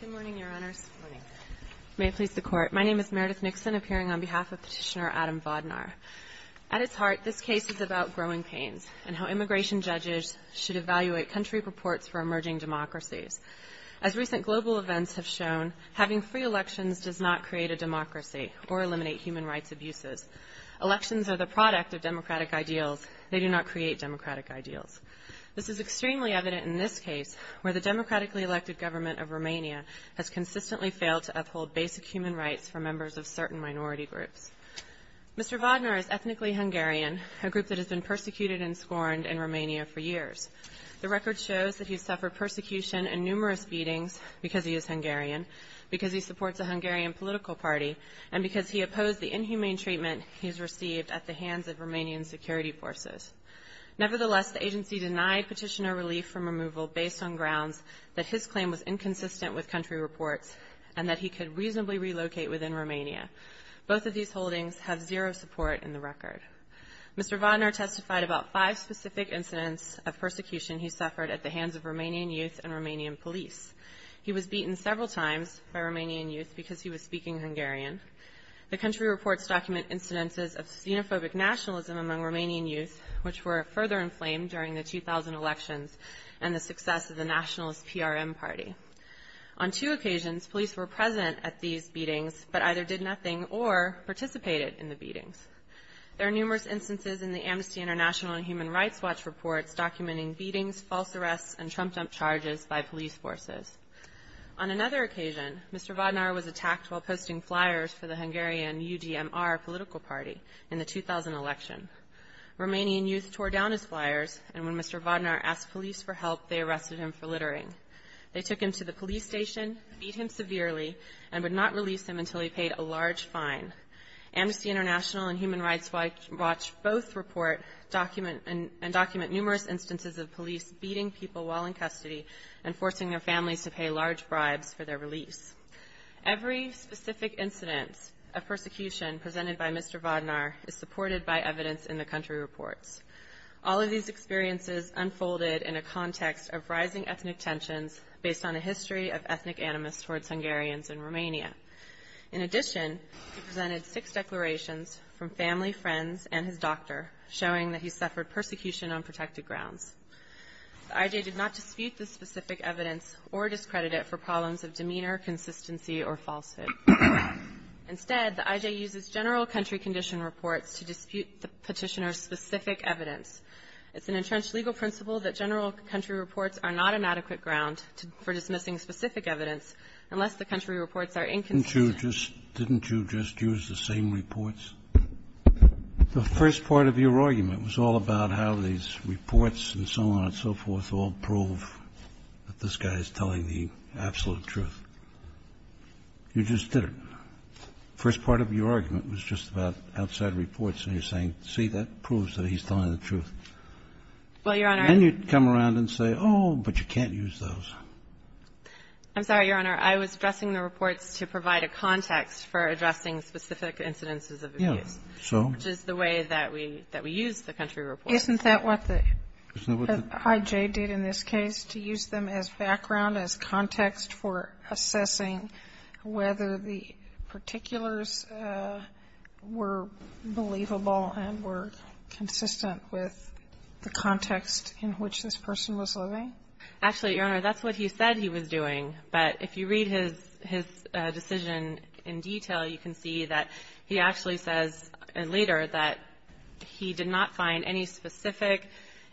Good morning, Your Honors. May it please the Court. My name is Meredith Nixon, appearing on behalf of Petitioner Adam Vodnor. At its heart, this case is about growing pains and how immigration judges should evaluate country reports for emerging democracies. As recent global events have shown, having free elections does not create a democracy or eliminate human rights abuses. Elections are the product of democratic ideals. They do not create democratic ideals. This is extremely evident in this case, where the democratically elected government of Romania has consistently failed to uphold basic human rights for members of certain minority groups. Mr. Vodnor is ethnically Hungarian, a group that has been persecuted and scorned in Romania for years. The record shows that he has suffered persecution and numerous beatings because he is Hungarian, because he supports a Hungarian political party, and because he opposed the inhumane treatment he has received at the hands of Romanian security forces. Nevertheless, the agency denied Petitioner relief from removal based on grounds that his claim was inconsistent with country reports and that he could reasonably relocate within Romania. Both of these holdings have zero support in the record. Mr. Vodnor testified about five specific incidents of persecution he suffered at the hands of Romanian youth and Romanian police. He was beaten several times by Romanian youth because he was speaking Hungarian. The country reports document incidences of xenophobic nationalism among Romanian youth, which were further inflamed during the 2000 elections and the success of the nationalist PRM party. On two occasions, police were present at these beatings, but either did nothing or participated in the beatings. There are numerous instances in the Amnesty International and Human Rights Watch reports documenting beatings, false arrests, and trumped-up charges by police forces. On another occasion, Mr. Vodnor was attacked while posting flyers for the Hungarian UDMR political party in the 2000 election. Romanian youth tore down his flyers, and when Mr. Vodnor asked police for help, they arrested him for littering. They took him to the police station, beat him severely, and would not release him until he paid a large fine. Amnesty International and Human Rights Watch both report and document numerous instances of police beating people while in custody and forcing their families to pay large bribes for their release. Every specific incident of persecution presented by Mr. Vodnor is supported by evidence in the country reports. All of these experiences unfolded in a context of rising ethnic tensions based on a history of ethnic animus towards Hungarians in Romania. In addition, he presented six declarations from family, friends, and his doctor, showing that he suffered persecution on protected grounds. The I.J. did not dispute this specific evidence or discredit it for problems of demeanor, consistency, or falsehood. Instead, the I.J. uses general country condition reports to dispute the Petitioner's specific evidence. It's an entrenched legal principle that general country reports are not an adequate ground for dismissing specific evidence unless the country reports are inconsistent. Sotomayor, didn't you just use the same reports? The first part of your argument was all about how these reports and so on and so forth all prove that this guy is telling the absolute truth. You just did it. The first part of your argument was just about outside reports, and you're saying, see, that proves that he's telling the truth. Well, Your Honor, and you come around and say, oh, but you can't use those. I'm sorry, Your Honor. Your Honor, I was addressing the reports to provide a context for addressing specific incidences of abuse, which is the way that we use the country reports. Isn't that what the I.J. did in this case, to use them as background, as context for assessing whether the particulars were believable and were consistent with the context in which this person was living? Actually, Your Honor, that's what he said he was doing. But if you read his decision in detail, you can see that he actually says later that he did not find any specific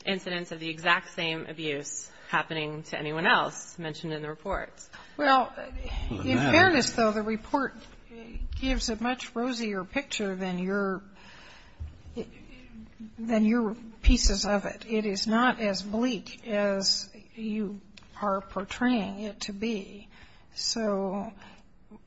incidents of the exact same abuse happening to anyone else mentioned in the reports. Well, in fairness, though, the report gives a much rosier picture than your pieces of it. It is not as bleak as you are portraying it to be. So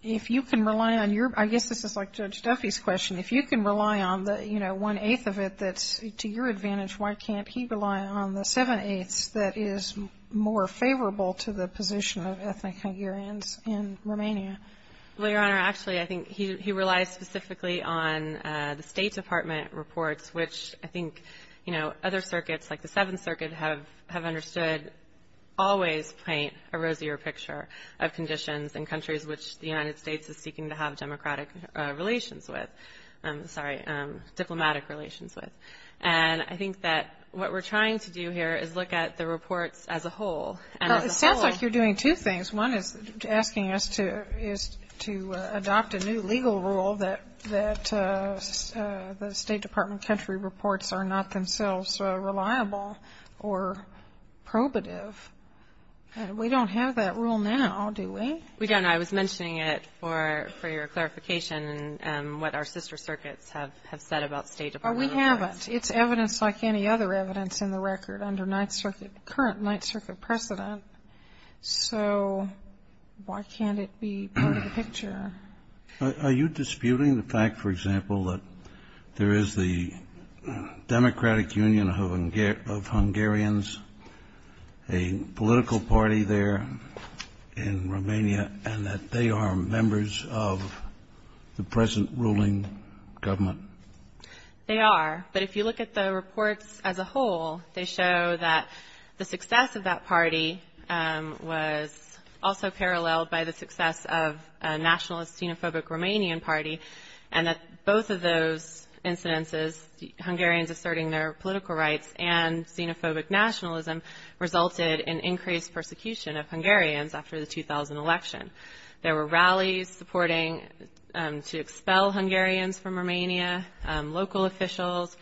if you can rely on your ‑‑ I guess this is like Judge Duffy's question. If you can rely on the, you know, one-eighth of it that's to your advantage, why can't he rely on the seven-eighths that is more favorable to the position of ethnic Hungarians in Romania? Well, Your Honor, actually, I think he relies specifically on the State Department reports, which I think, you know, other circuits like the Seventh Circuit have understood always paint a rosier picture of conditions in countries which the United States is seeking to have democratic relations with ‑‑ sorry, diplomatic relations with. And I think that what we're trying to do here is look at the reports as a whole. And as a whole ‑‑ Well, it sounds like you're doing two things. One is asking us to adopt a new legal rule that the State Department country reports are not themselves reliable or probative. We don't have that rule now, do we? We don't. I was mentioning it for your clarification and what our sister circuits have said about State Department reports. Oh, we haven't. It's evidence like any other evidence in the record under current Ninth Circuit precedent. So why can't it be part of the picture? Are you disputing the fact, for example, that there is the Democratic Union of Hungarians, a political party there in Romania, and that they are members of the present ruling government? They are. But if you look at the reports as a whole, they show that the success of that party was also paralleled by the success of a nationalist xenophobic Romanian party, and that both of those incidences, Hungarians asserting their political rights and xenophobic nationalism, resulted in increased persecution of Hungarians after the 2000 election. There were rallies supporting to expel Hungarians from Romania. Local officials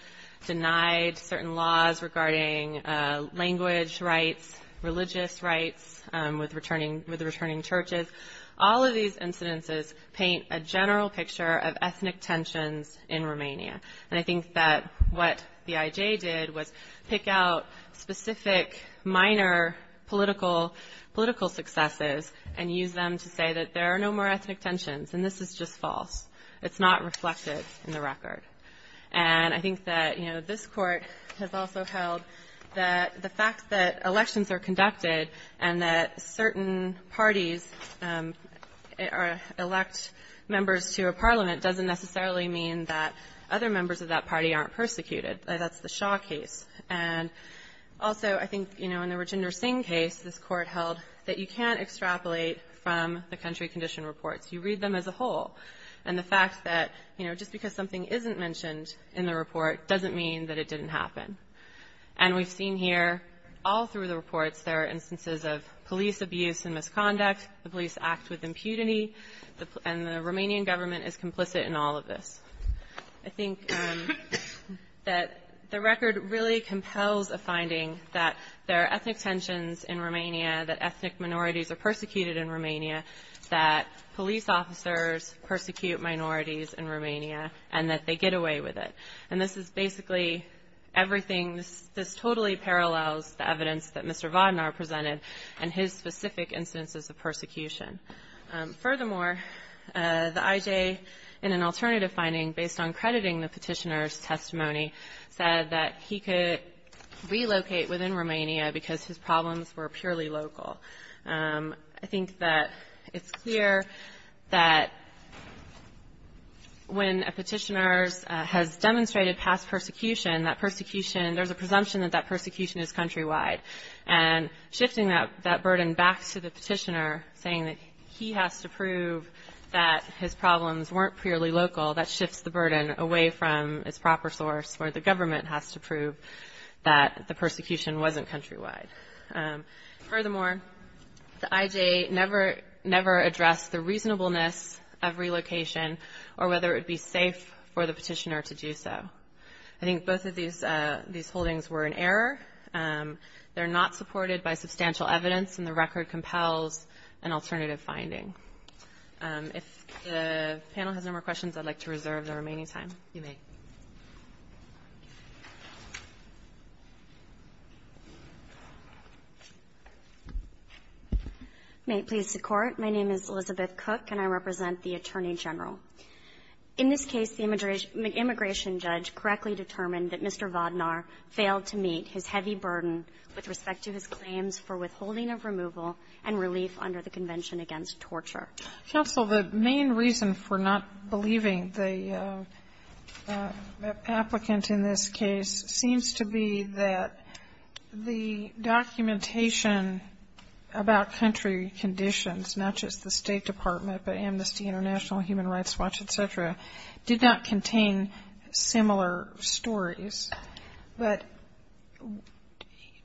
denied certain laws regarding language rights, religious rights, with returning churches. All of these incidences paint a general picture of ethnic tensions in Romania. And I think that what the IJ did was pick out specific minor political successes and use them to say that there are no more ethnic tensions, and this is just false. It's not reflected in the record. And I think that, you know, this Court has also held that the fact that elections are conducted and that certain parties elect members to a parliament doesn't necessarily mean that other members of that party aren't persecuted. That's the Shaw case. And also, I think, you know, in the Rajinder Singh case, this Court held that you can't extrapolate from the country condition reports. You read them as a whole. And the fact that, you know, just because something isn't mentioned in the report doesn't mean that it didn't happen. And we've seen here all through the reports there are instances of police abuse and misconduct, the police act with impunity, and the Romanian government is complicit in all of this. I think that the record really compels a finding that there are ethnic tensions in Romania, that ethnic minorities are persecuted in Romania, that police officers persecute minorities in Romania, and that they get away with it. And this is basically everything. This totally parallels the evidence that Mr. Vodnar presented and his specific instances of persecution. Furthermore, the IJ, in an alternative finding based on crediting the Petitioner's testimony, said that he could relocate within Romania because his problems were purely local. I think that it's clear that when a Petitioner has demonstrated past persecution, that persecution, there's a presumption that that persecution is countrywide. And shifting that burden back to the Petitioner, saying that he has to prove that his problems weren't purely local, that shifts the burden away from its proper source, where the government has to prove that the persecution wasn't countrywide. Furthermore, the IJ never addressed the reasonableness of relocation or whether it would be safe for the Petitioner to do so. I think both of these holdings were in error. They're not supported by substantial evidence, and the record compels an alternative finding. If the panel has no more questions, I'd like to reserve the remaining time. You may. May it please the Court, my name is Elizabeth Cook, and I represent the Attorney General. In this case, the immigration judge correctly determined that Mr. Vodnar failed to meet his heavy burden with respect to his claims for withholding of removal and relief under the Convention Against Torture. Counsel, the main reason for not believing the applicant in this case seems to be that the documentation about country conditions, not just the State Department, but Amnesty International, Human Rights Watch, et cetera, did not contain similar stories. But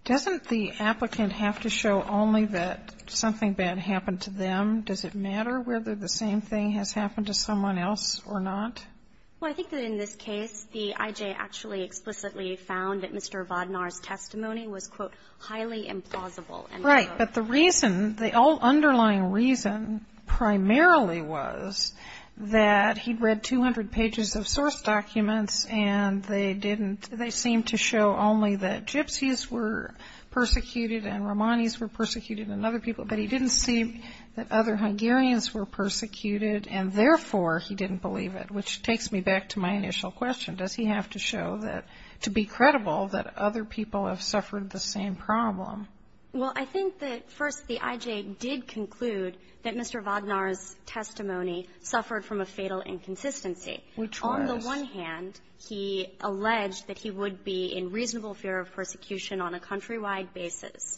doesn't the applicant have to show only that something bad happened to them? Does it matter whether the same thing has happened to someone else or not? Well, I think that in this case, the IJ actually explicitly found that Mr. Vodnar's testimony was, quote, highly implausible. Right. But the reason, the underlying reason primarily was that he'd read 200 pages of source documents, and they didn't, they seemed to show only that gypsies were persecuted and Romanis were persecuted and other people, but he didn't see that other Hungarians were persecuted, and therefore, he didn't believe it, which takes me back to my initial question. Does he have to show that, to be credible, that other people have suffered the same problem? Well, I think that, first, the IJ did conclude that Mr. Vodnar's testimony suffered from a fatal inconsistency. Which was? Well, on the one hand, he alleged that he would be in reasonable fear of persecution on a countrywide basis,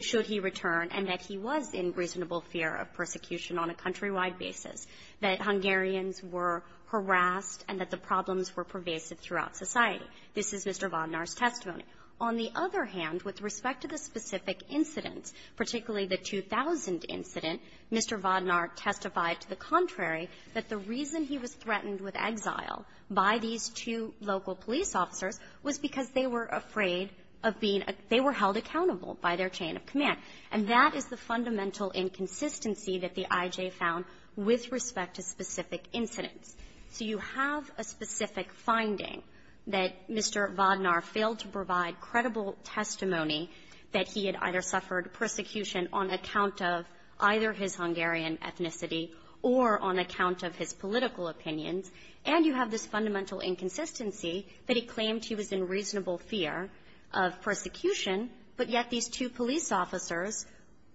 should he return, and that he was in reasonable fear of persecution on a countrywide basis, that Hungarians were harassed and that the problems were pervasive throughout society. This is Mr. Vodnar's testimony. On the other hand, with respect to the specific incidents, particularly the 2000 incident, Mr. Vodnar testified to the contrary, that the reason he was threatened with exile by these two local police officers was because they were afraid of being a – they were held accountable by their chain of command. And that is the fundamental inconsistency that the IJ found with respect to specific incidents. So you have a specific finding that Mr. Vodnar failed to provide credible testimony that he had either suffered persecution on account of either his Hungarian fundamental inconsistency, that he claimed he was in reasonable fear of persecution, but yet these two police officers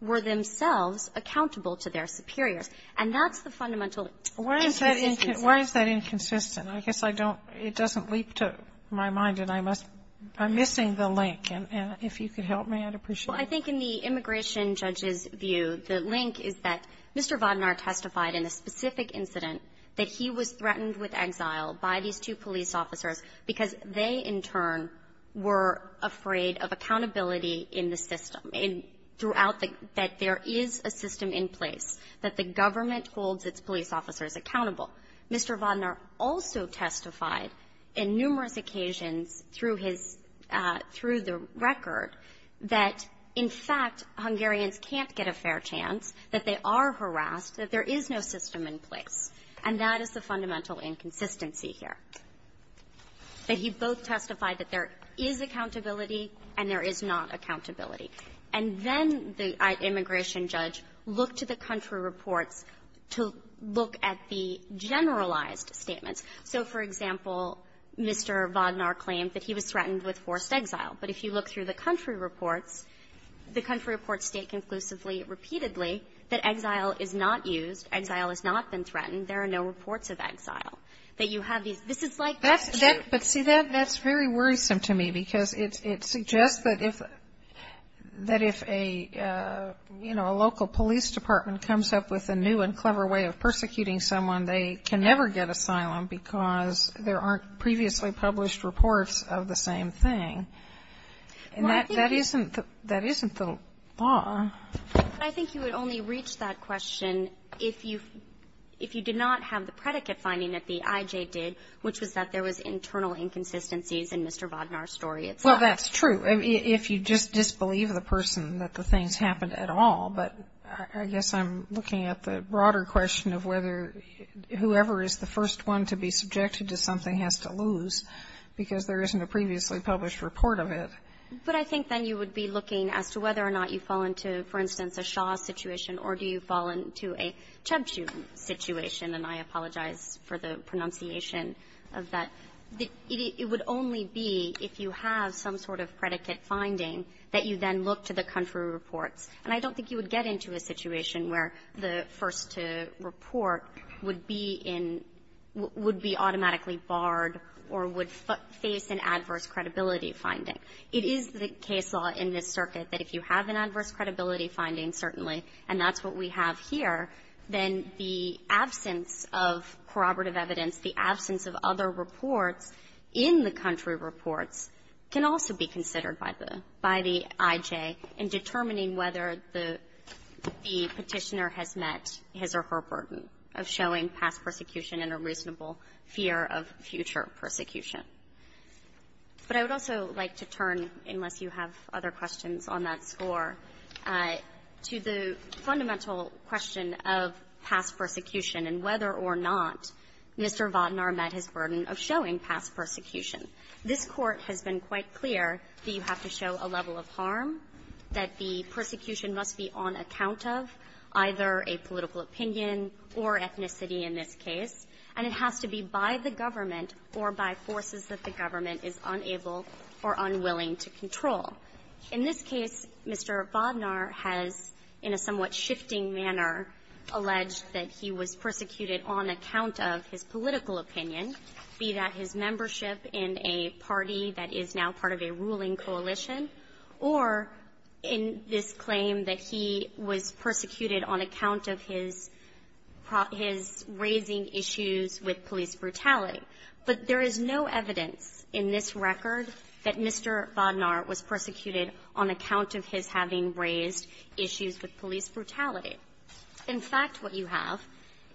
were themselves accountable to their superiors. And that's the fundamental inconsistency. Why is that inconsistent? I guess I don't – it doesn't leap to my mind, and I must – I'm missing the link. And if you could help me, I'd appreciate it. Well, I think in the immigration judge's view, the link is that Mr. Vodnar testified in a specific incident that he was threatened with exile by these two police officers because they, in turn, were afraid of accountability in the system, and throughout the – that there is a system in place that the government holds its police officers accountable. Mr. Vodnar also testified in numerous occasions through his – through the record that, in fact, Hungarians can't get a fair chance, that they are harassed, that there is no system in place. And that is the fundamental inconsistency here, that he both testified that there is accountability and there is not accountability. And then the immigration judge looked to the country reports to look at the generalized statements. So, for example, Mr. Vodnar claimed that he was threatened with forced exile. But if you look through the country reports, the country reports state conclusively repeatedly that exile is not used, exile has not been threatened, there are no reports of exile, that you have these – this is like the issue. But, see, that's very worrisome to me, because it suggests that if a, you know, a local police department comes up with a new and clever way of persecuting someone, they can never get asylum because there aren't previously published reports of the same thing. And that isn't the law. GOTTLIEB But I think you would only reach that question if you did not have the predicate finding that the IJ did, which was that there was internal inconsistencies in Mr. Vodnar's story itself. MS. GOTTLIEB Well, that's true, if you just disbelieve the person that the things happened at all. But I guess I'm looking at the broader question of whether whoever is the first one to be But I think then you would be looking as to whether or not you fall into, for instance, a Shah situation or do you fall into a Chubchuk situation, and I apologize for the pronunciation of that. It would only be if you have some sort of predicate finding that you then look to the country reports. And I don't think you would get into a situation where the first to report would be in – would be automatically barred or would face an adverse credibility finding. It is the case law in this circuit that if you have an adverse credibility finding, certainly, and that's what we have here, then the absence of corroborative evidence, the absence of other reports in the country reports can also be considered by the – by the IJ in determining whether the Petitioner has met his or her burden of showing past persecution and a reasonable fear of future persecution. But I would also like to turn, unless you have other questions on that score, to the fundamental question of past persecution and whether or not Mr. Votnar met his burden of showing past persecution. This Court has been quite clear that you have to show a level of harm, that the persecution must be on account of either a political opinion or ethnicity in this case, and it is a level of harm that the government is unable or unwilling to control. In this case, Mr. Votnar has, in a somewhat shifting manner, alleged that he was persecuted on account of his political opinion, be that his membership in a party that is now part of a ruling coalition, or in this claim that he was persecuted on account of his – his raising issues with police brutality. But there is no evidence in this record that Mr. Votnar was persecuted on account of his having raised issues with police brutality. In fact, what you have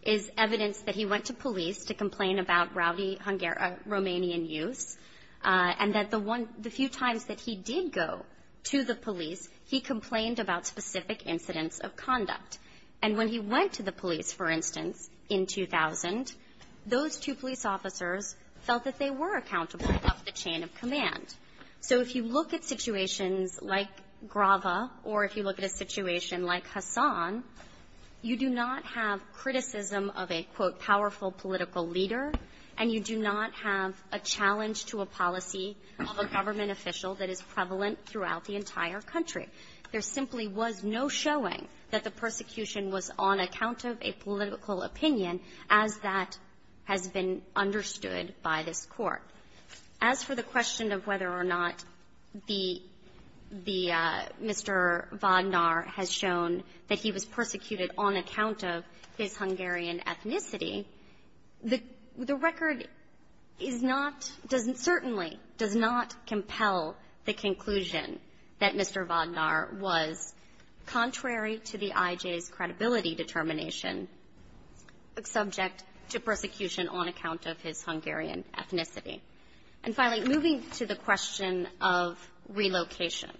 is evidence that he went to police to complain about rowdy Romanian youths, and that the one – the few times that he did go to the police, he complained about specific incidents of conduct. And when he went to the police, for instance, in 2000, those two police officers felt that they were accountable of the chain of command. So if you look at situations like Grava or if you look at a situation like Hassan, you do not have criticism of a, quote, powerful political leader, and you do not have a challenge to a policy of a government official that is prevalent throughout the entire country. There simply was no showing that the persecution was on account of a political opinion as that has been understood by this Court. As for the question of whether or not the – the – Mr. Votnar has shown that he was persecuted on account of his Hungarian ethnicity, the – the record is not – certainly does not compel the conclusion that Mr. Votnar was, contrary to the IJ's credibility determination, subject to persecution on account of his Hungarian ethnicity. And finally, moving to the question of relocation,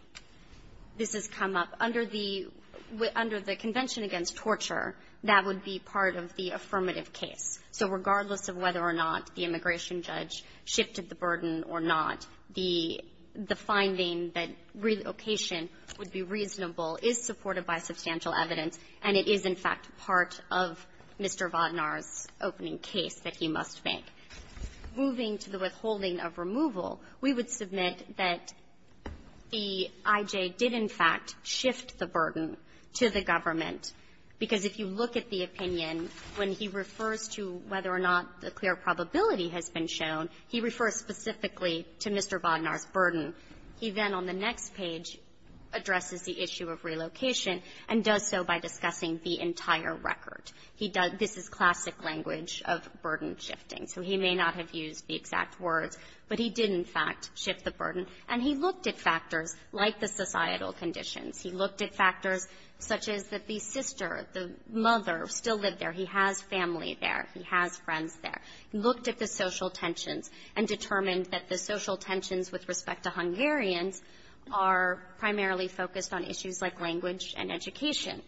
this has come up under the – under the Convention Against Torture. That would be part of the affirmative case. So regardless of whether or not the immigration judge shifted the burden or not, the – the finding that relocation would be reasonable is supported by substantial evidence, and it is, in fact, part of Mr. Votnar's opening case that he must make. Moving to the withholding of removal, we would submit that the IJ did, in fact, shift the burden to the government, because if you look at the opinion when he refers to whether or not the clear probability has been shown, he refers specifically to Mr. Votnar's burden. He then, on the next page, addresses the issue of relocation and does so by discussing the entire record. He does – this is classic language of burden shifting, so he may not have used the exact words, but he did, in fact, shift the burden, and he looked at factors like the societal conditions. He looked at factors such as that the sister, the mother, still lived there. He has family there. He has friends there. He looked at the social tensions and determined that the social tensions with respect to Hungarians are primarily focused on issues like language and education,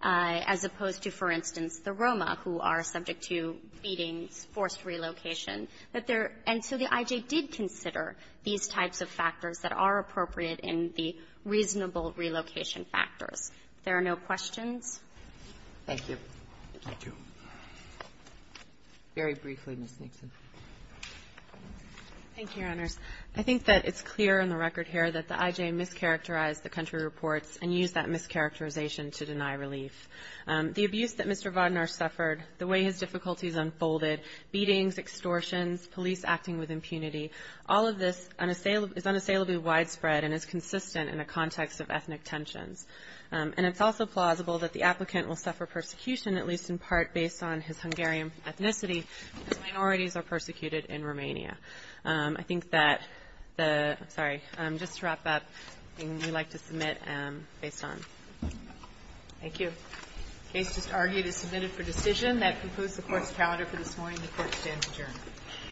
as opposed to, for instance, the Roma, who are subject to beatings, forced relocation. But there – and so the IJ did consider these types of factors that are appropriate in the reasonable relocation factors. If there are no questions. Roberts. Thank you. Roberts. Thank you. Very briefly, Ms. Nixon. Thank you, Your Honors. I think that it's clear in the record here that the IJ mischaracterized the country reports and used that mischaracterization to deny relief. The abuse that Mr. Votnar suffered, the way his difficulties unfolded, beatings, extortions, police acting with impunity, all of this is unassailably widespread and is consistent in the context of ethnic tensions. And it's also plausible that the applicant will suffer persecution, at least in part based on his Hungarian ethnicity, as minorities are persecuted in Romania. I think that the – sorry, just to wrap up, anything you'd like to submit based on? Thank you. The case just argued is submitted for decision. That concludes the Court's calendar for this morning. The Court stands adjourned.